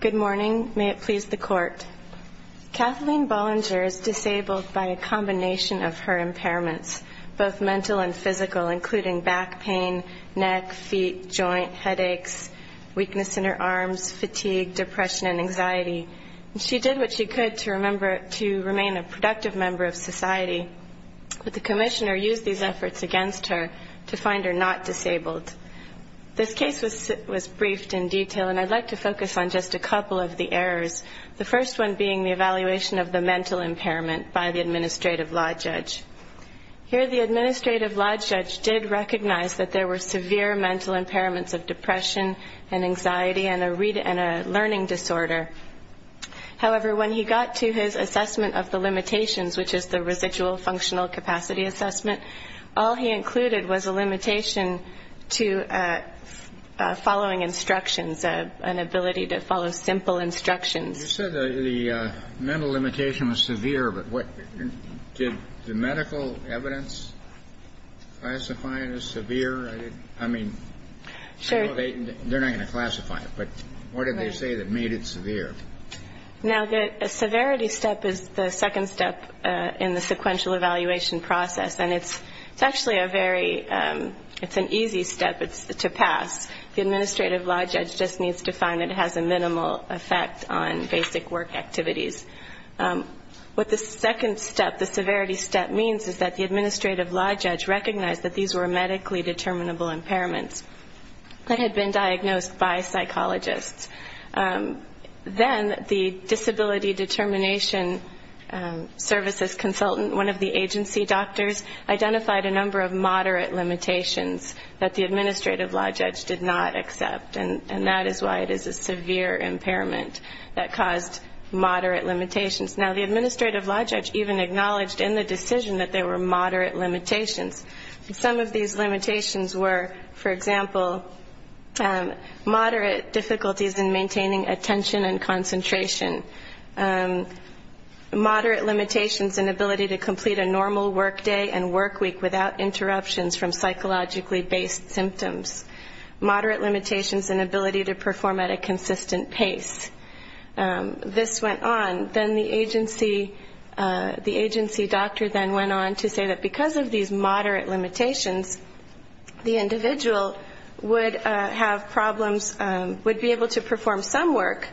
Good morning. May it please the Court. Kathleen Bollinger is disabled by a combination of her impairments, both mental and physical, including back pain, neck, feet, joint, headaches, weakness in her arms, fatigue, depression, and anxiety. She did what she could to remain a productive member of society, but the Commissioner used these efforts against her to find her not disabled. This case was briefed in detail, and I'd like to focus on just a couple of the errors, the first one being the evaluation of the mental impairment by the Administrative Law Judge. Here the Administrative Law Judge did recognize that there were severe mental impairments of depression and anxiety and a learning disorder. However, when he got to his assessment of the limitations, which is the residual functional capacity assessment, all he included was a limitation to following instructions, an ability to follow simple instructions. You said the mental limitation was severe, but did the medical evidence classify it as severe? I mean, they're not going to classify it, but what did they say that made it severe? Now, the severity step is the second step in the sequential evaluation process, and it's actually a very easy step to pass. The Administrative Law Judge just needs to find that it has a minimal effect on basic work activities. What the second step, the severity step, means is that the Administrative Law Judge recognized that these were medically determinable impairments that had been diagnosed by psychologists. Then the disability determination services consultant, one of the agency doctors, identified a number of moderate limitations that the Administrative Law Judge did not accept, and that is why it is a severe impairment that caused moderate limitations. Now, the Administrative Law Judge even acknowledged in the decision that they were moderate limitations. Some of these limitations were, for example, moderate difficulties in maintaining attention and concentration, moderate limitations in ability to complete a normal work day and work week without interruptions from psychologically based symptoms, moderate limitations in ability to perform at a consistent pace. This went on. Then the agency doctor then went on to say that because of these moderate limitations, the individual would have problems, would be able to perform some work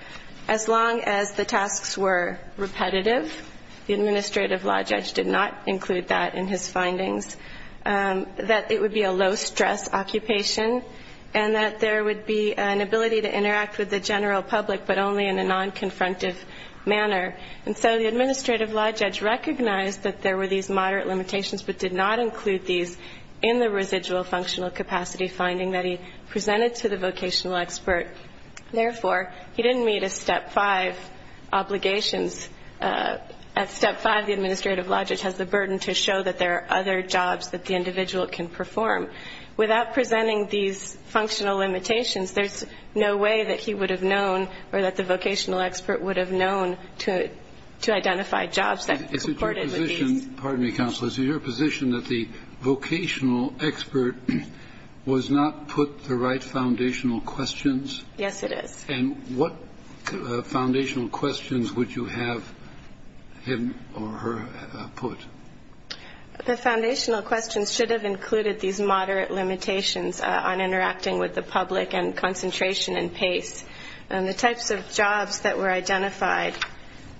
as long as the tasks were repetitive. The Administrative Law Judge did not include that in his findings. That it would be a low-stress occupation, and that there would be an ability to interact with the general public, but only in a non-confrontative manner. And so the Administrative Law Judge recognized that there were these moderate limitations, but did not include these in the residual functional capacity finding that he presented to the vocational expert. Therefore, he didn't meet his Step 5 obligations. At Step 5, the Administrative Law Judge has the burden to show that there are other jobs that the individual can perform. Without presenting these functional limitations, there's no way that he would have known or that the vocational expert would have known to identify jobs that supported these. Is it your position, pardon me, Counsel, is it your position that the vocational expert was not put the right foundational questions? Yes, it is. And what foundational questions would you have him or her put? The foundational questions should have included these moderate limitations on interacting with the public and concentration and pace. And the types of jobs that were identified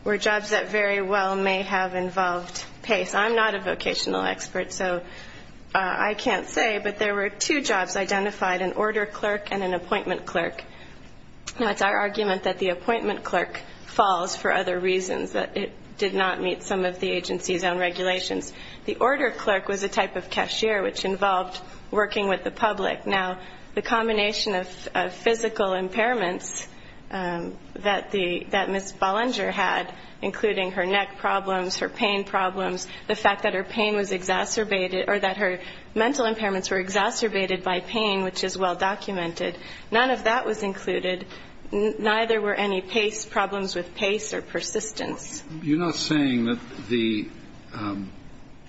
were jobs that very well may have involved pace. I'm not a vocational expert, so I can't say. But there were two jobs identified, an order clerk and an appointment clerk. It's our argument that the appointment clerk falls for other reasons, that it did not meet some of the agency's own regulations. The order clerk was a type of cashier, which involved working with the public. Now, the combination of physical impairments that Ms. Ballinger had, including her neck problems, her pain problems, the fact that her pain was exacerbated or that her mental impairments were exacerbated by pain, which is well-documented, none of that was included, neither were any pace problems with pace or persistence. You're not saying that the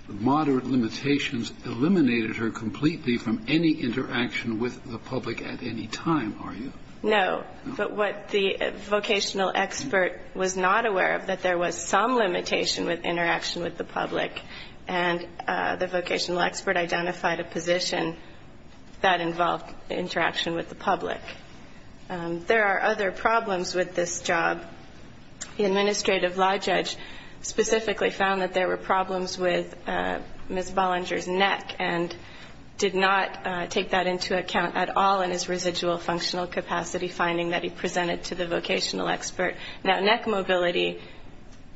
moderate limitations eliminated her completely from any interaction with the public at any time, are you? No. But what the vocational expert was not aware of, that there was some limitation with interaction with the public, and the vocational expert identified a position that involved interaction with the public. There are other problems with this job. The administrative law judge specifically found that there were problems with Ms. Ballinger's neck and did not take that into account at all in his residual functional capacity, finding that he presented to the vocational expert. Now, neck mobility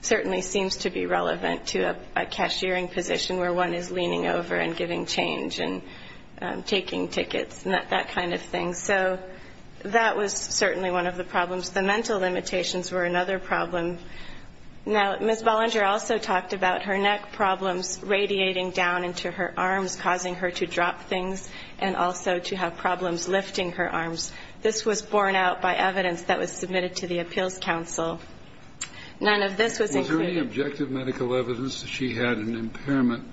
certainly seems to be relevant to a cashiering position where one is leaning over and giving change and taking tickets and that kind of thing. So that was certainly one of the problems. The mental limitations were another problem. Now, Ms. Ballinger also talked about her neck problems radiating down into her arms, causing her to drop things and also to have problems lifting her arms. This was borne out by evidence that was submitted to the Appeals Council. None of this was included. Any objective medical evidence that she had an impairment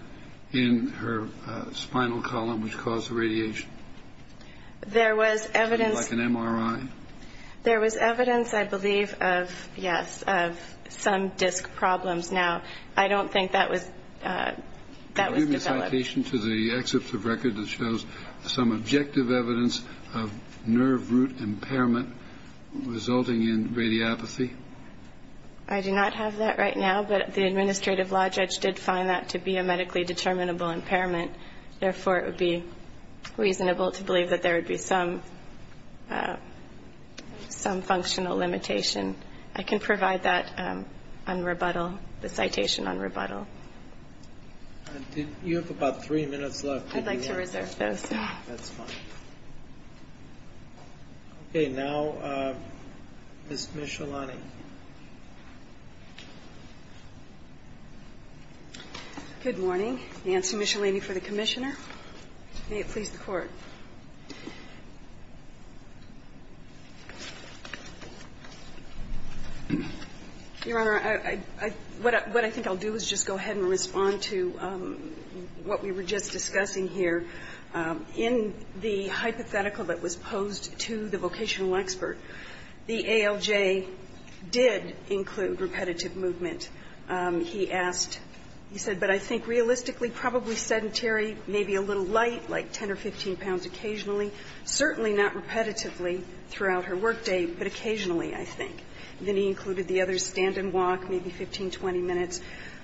in her spinal column which caused the radiation? There was evidence. Like an MRI? There was evidence, I believe, of, yes, of some disc problems. Now, I don't think that was developed. Can you give me a citation to the excerpt of record that shows some objective evidence of nerve root impairment resulting in radiopathy? I do not have that right now, but the administrative law judge did find that to be a medically determinable impairment. Therefore, it would be reasonable to believe that there would be some functional limitation. I can provide that on rebuttal, the citation on rebuttal. You have about three minutes left. I'd like to reserve those. That's fine. Okay. Now, Ms. Michelani. Good morning. Nancy Michelani for the Commissioner. May it please the Court. Your Honor, what I think I'll do is just go ahead and respond to what we were just discussing here. In the hypothetical that was posed to the vocational expert, the ALJ did include repetitive movement. He asked, he said, but I think realistically probably sedentary, maybe a little light, like 10 or 15 pounds occasionally, certainly not repetitively throughout her workday, but occasionally, I think. Then he included the other stand and walk, maybe 15, 20 minutes,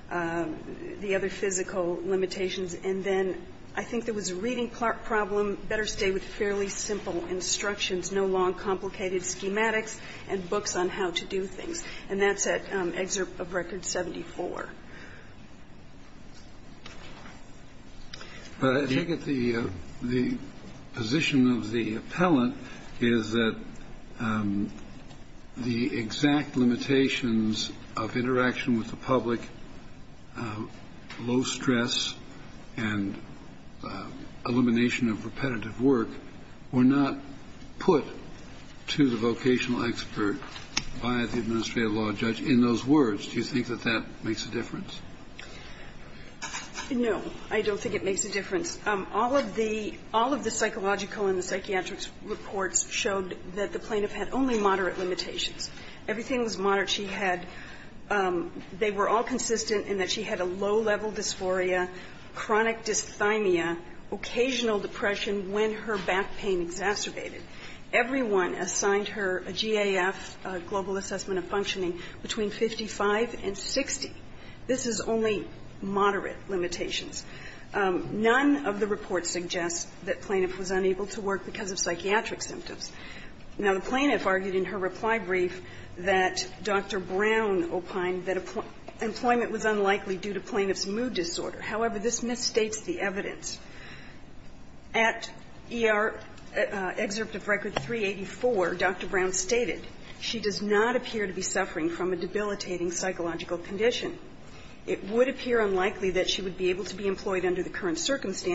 the other physical limitations, and then I think there was a reading problem, better stay with fairly simple instructions, no long complicated schematics and books on how to do things. And that's at excerpt of Record 74. But I think that the position of the appellant is that the exact limitations of interaction with the public, low stress, and elimination of repetitive work were not put to the vocational expert by the administrative law judge. In those words, do you think that that makes a difference? No, I don't think it makes a difference. All of the psychological and the psychiatric reports showed that the plaintiff had only moderate limitations. Everything was moderate. She had they were all consistent in that she had a low-level dysphoria, chronic dysthymia, occasional depression when her back pain exacerbated. Everyone assigned her a GAF, global assessment of functioning, between 55 and 60. This is only moderate limitations. None of the reports suggest that plaintiff was unable to work because of psychiatric symptoms. Now, the plaintiff argued in her reply brief that Dr. Brown opined that employment was unlikely due to plaintiff's mood disorder. However, this misstates the evidence. At ER excerpt of Record 384, Dr. Brown stated, She does not appear to be suffering from a debilitating psychological condition. It would appear unlikely that she would be able to be employed under the current stand for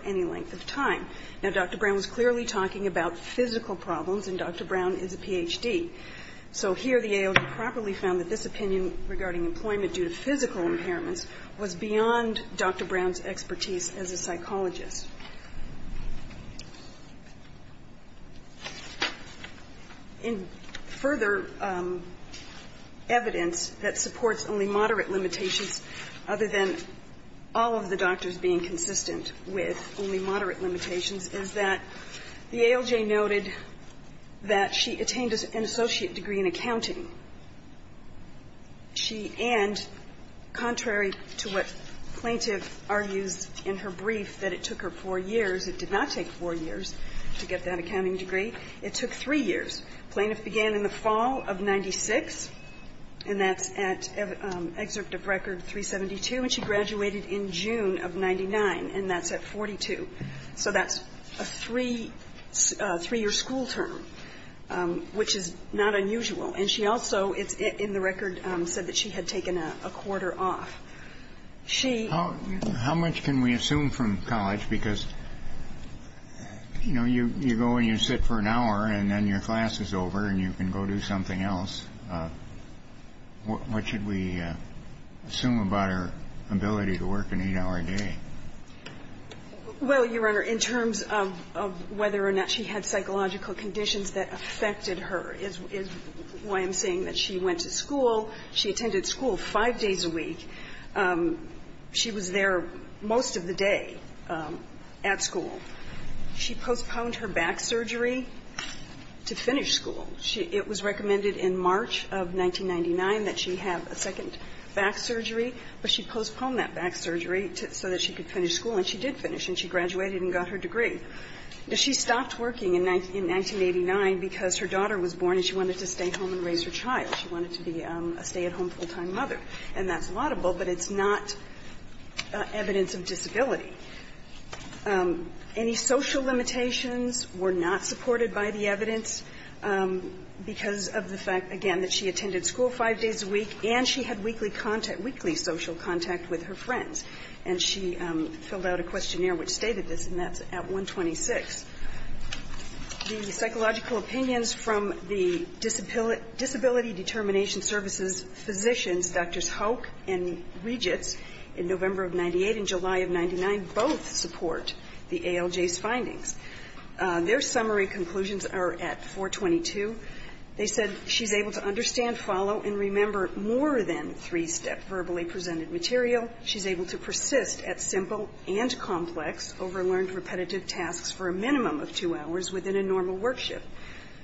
any length of time. Now, Dr. Brown was clearly talking about physical problems, and Dr. Brown is a Ph.D. So here the AOD properly found that this opinion regarding employment due to physical impairments was beyond Dr. Brown's expertise as a psychologist. In further evidence that supports only moderate limitations other than all of the doctors being consistent with only moderate limitations, is that the ALJ noted that she attained an associate degree in accounting. She and, contrary to what plaintiff argues in her brief, that it took her 4 years to get that accounting degree, it took 3 years. Plaintiff began in the fall of 96, and that's at excerpt of Record 372, and she graduated in June of 99, and that's at 42. So that's a 3-year school term, which is not unusual. And she also, in the record, said that she had taken a quarter off. She ---- How much can we assume from college? Because, you know, you go and you sit for an hour and then your class is over and you can go do something else. What should we assume about her ability to work an 8-hour day? Well, Your Honor, in terms of whether or not she had psychological conditions that affected her is why I'm saying that she went to school. She attended school 5 days a week. She was there most of the day at school. She postponed her back surgery to finish school. It was recommended in March of 1999 that she have a second back surgery, but she postponed that back surgery so that she could finish school. And she did finish, and she graduated and got her degree. She stopped working in 1989 because her daughter was born and she wanted to stay home and raise her child. She wanted to be a stay-at-home full-time mother. And that's laudable, but it's not evidence of disability. Any social limitations were not supported by the evidence. Because of the fact, again, that she attended school 5 days a week and she had weekly contact, weekly social contact with her friends. And she filled out a questionnaire which stated this, and that's at 126. The psychological opinions from the Disability Determination Services Physicians, Drs. Hoke and Regits, in November of 98 and July of 99, both support the ALJ's findings. Their summary conclusions are at 422. They said she's able to understand, follow, and remember more than three-step verbally presented material. She's able to persist at simple and complex, over-learned, repetitive tasks for a minimum of two hours within a normal work shift.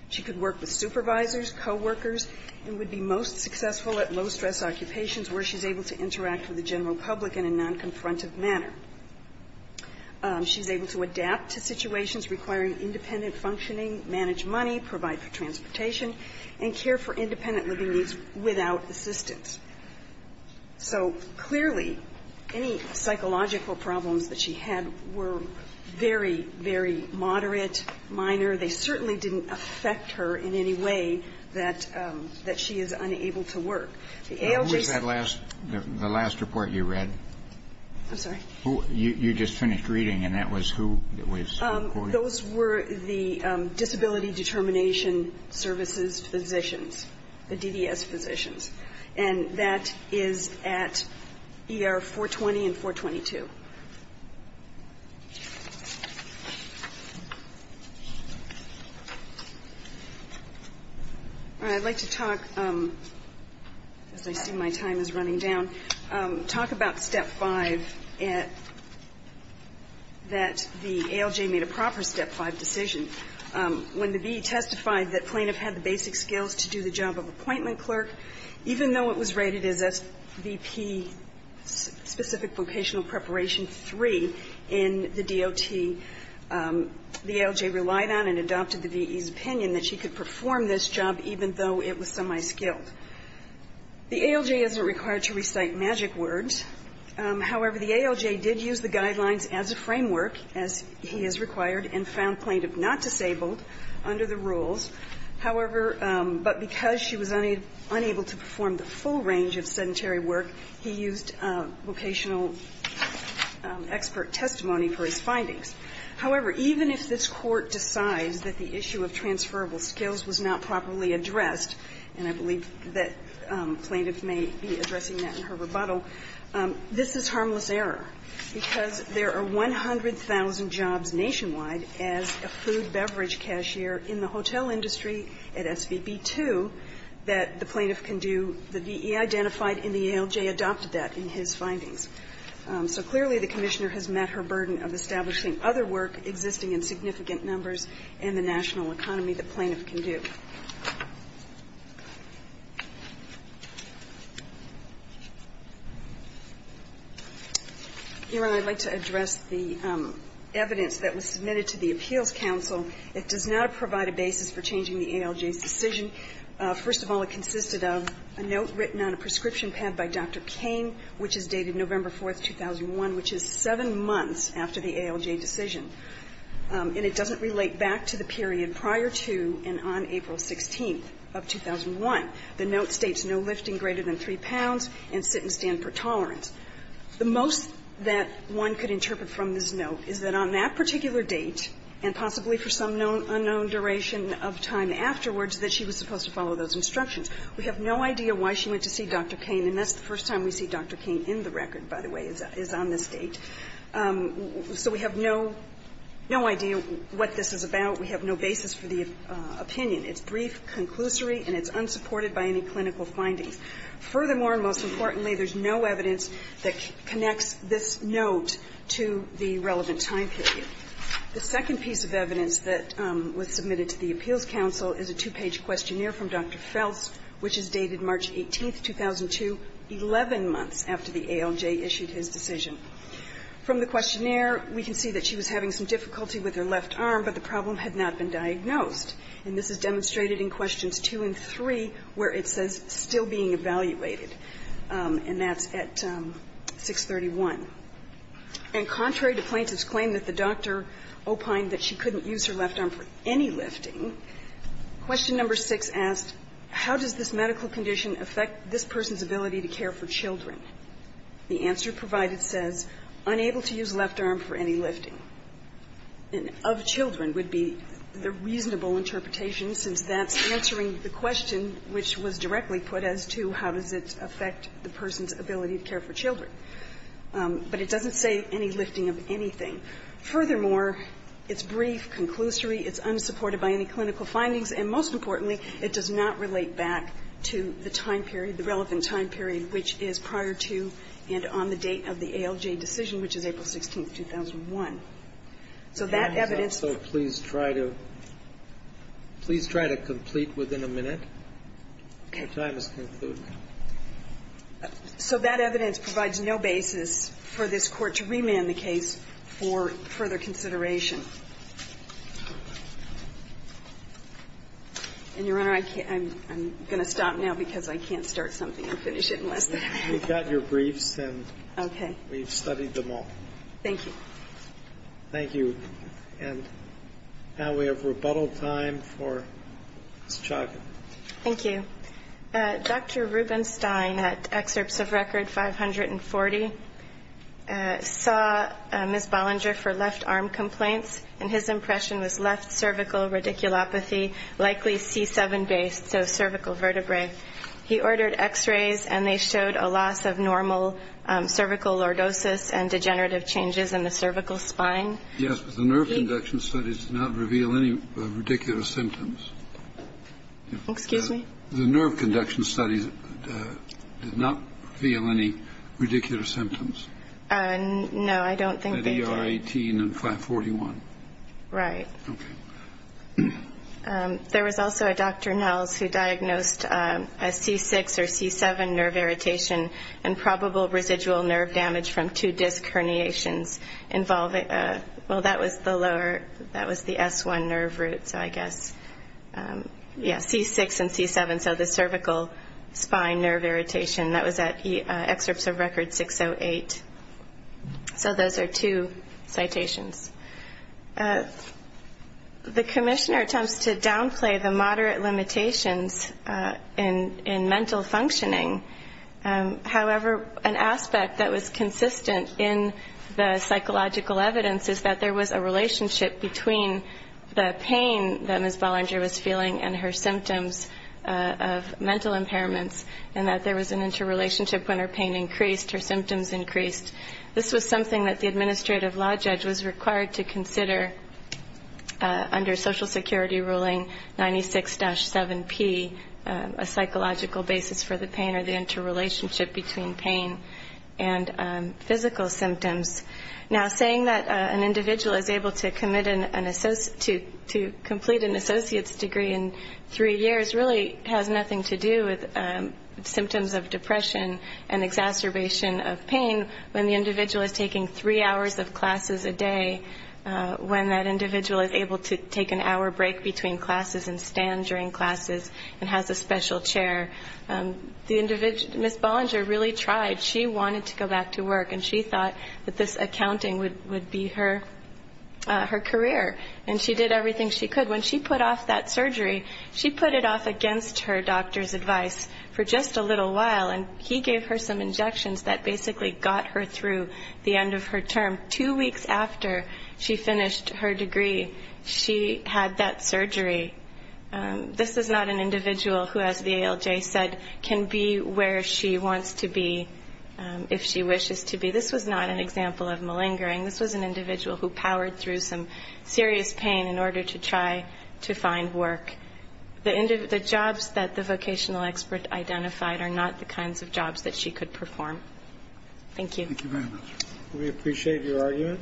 She could work with supervisors, coworkers, and would be most successful at low-stress occupations where she's able to interact with the general public in a non-confrontative manner. She's able to adapt to situations requiring independent functioning, manage money, provide for transportation, and care for independent living needs without assistance. So, clearly, any psychological problems that she had were very, very moderate, minor. They certainly didn't affect her in any way that she is unable to work. The ALJ's said that. The last report you read. I'm sorry. You just finished reading, and that was who was quoted? Those were the Disability Determination Services physicians, the DDS physicians. And that is at ER 420 and 422. All right. I'd like to talk, because I see my time is running down, talk about Step 5, that the ALJ made a proper Step 5 decision. When the VE testified that plaintiff had the basic skills to do the job of appointment in the DOT, the ALJ relied on and adopted the VE's opinion that she could perform this job even though it was semi-skilled. The ALJ isn't required to recite magic words. However, the ALJ did use the guidelines as a framework, as he has required, and found plaintiff not disabled under the rules. However, but because she was unable to perform the full range of sedentary work, he used vocational expert testimony for his findings. However, even if this Court decides that the issue of transferable skills was not properly addressed, and I believe that plaintiff may be addressing that in her rebuttal, this is harmless error, because there are 100,000 jobs nationwide as a food beverage cashier in the hotel industry at SBB 2 that the plaintiff can do the VE identified and the ALJ adopted that in his findings. So clearly the Commissioner has met her burden of establishing other work existing in significant numbers in the national economy that plaintiff can do. Your Honor, I'd like to address the evidence that was submitted to the Appeals Counsel. It does not provide a basis for changing the ALJ's decision. First of all, it consisted of a note written on a prescription pad by Dr. Cain, which is dated November 4th, 2001, which is seven months after the ALJ decision. And it doesn't relate back to the period prior to and on April 16th of 2001. The note states no lifting greater than 3 pounds and sit and stand for tolerance. The most that one could interpret from this note is that on that particular date and possibly for some unknown duration of time afterwards that she was supposed to follow those instructions. We have no idea why she went to see Dr. Cain, and that's the first time we see Dr. Cain in the record, by the way, is on this date. So we have no idea what this is about. We have no basis for the opinion. It's brief, conclusory, and it's unsupported by any clinical findings. Furthermore, and most importantly, there's no evidence that connects this note to the The second piece of evidence that was submitted to the Appeals Council is a two-page questionnaire from Dr. Feltz, which is dated March 18th, 2002, 11 months after the ALJ issued his decision. From the questionnaire, we can see that she was having some difficulty with her left arm, but the problem had not been diagnosed. And this is demonstrated in questions 2 and 3 where it says still being evaluated, and that's at 631. And contrary to plaintiff's claim that the doctor opined that she couldn't use her left arm for any lifting, question number 6 asked, how does this medical condition affect this person's ability to care for children? The answer provided says, unable to use left arm for any lifting. And of children would be the reasonable interpretation, since that's answering the question which was directly put as to how does it affect the person's ability to care for children. But it doesn't say any lifting of anything. Furthermore, it's brief, conclusory. It's unsupported by any clinical findings. And most importantly, it does not relate back to the time period, the relevant time period, which is prior to and on the date of the ALJ decision, which is April 16th, 2001. So that evidence ---- So please try to ---- please try to complete within a minute. Okay. Your time is concluded. So that evidence provides no basis for this Court to remand the case for further consideration. And, Your Honor, I can't ---- I'm going to stop now because I can't start something and finish it unless they're ---- We've got your briefs. Okay. And we've studied them all. Thank you. Thank you. And now we have rebuttal time for Ms. Chaka. Thank you. Dr. Rubenstein, at Excerpts of Record 540, saw Ms. Bollinger for left arm complaints. And his impression was left cervical radiculopathy, likely C7-based, so cervical vertebrae. He ordered X-rays, and they showed a loss of normal cervical lordosis and degenerative changes in the cervical spine. Yes, but the nerve conduction studies did not reveal any radicular symptoms. Excuse me? The nerve conduction studies did not reveal any radicular symptoms. No, I don't think they did. At ER 18 and 541. Right. Okay. There was also a Dr. Nels who diagnosed a C6 or C7 nerve irritation and probable residual nerve damage from two disc herniations involving ---- well, that was the lower ---- that was the S1 nerve root, so I guess, yes, C6 and C7. So the cervical spine nerve irritation. That was at Excerpts of Record 608. So those are two citations. The commissioner attempts to downplay the moderate limitations in mental functioning. However, an aspect that was consistent in the psychological evidence is that there was a relationship between the pain that Ms. Bollinger was feeling and her symptoms of mental impairments, and that there was an interrelationship when her pain increased, her symptoms increased. This was something that the administrative law judge was required to consider under Social Security ruling 96-7P, a psychological basis for the pain or the interrelationship between pain and physical symptoms. Now, saying that an individual is able to commit an ---- to complete an associate's degree in three years really has nothing to do with symptoms of depression and exacerbation of pain when the individual is taking three hours of classes a day, when that individual is able to take an hour break between classes and stand during classes and has a special chair. The individual ---- Ms. Bollinger really tried. She wanted to go back to work, and she thought that this accounting would be her career, and she did everything she could. When she put off that surgery, she put it off against her doctor's advice for just a little while, and he gave her some injections that basically got her through the end of her term. Two weeks after she finished her degree, she had that surgery. This is not an individual who, as VALJ said, can be where she wants to be if she wishes to be. This was not an example of malingering. This was an individual who powered through some serious pain in order to try to find work. The jobs that the vocational expert identified are not the kinds of jobs that she could perform. Thank you. Thank you very much. We appreciate your argument.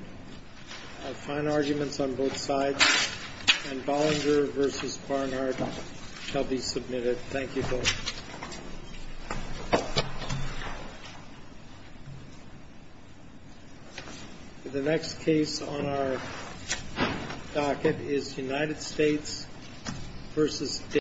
Fine arguments on both sides. And Bollinger v. Barnard shall be submitted. Thank you both. The next case on our docket is United States v.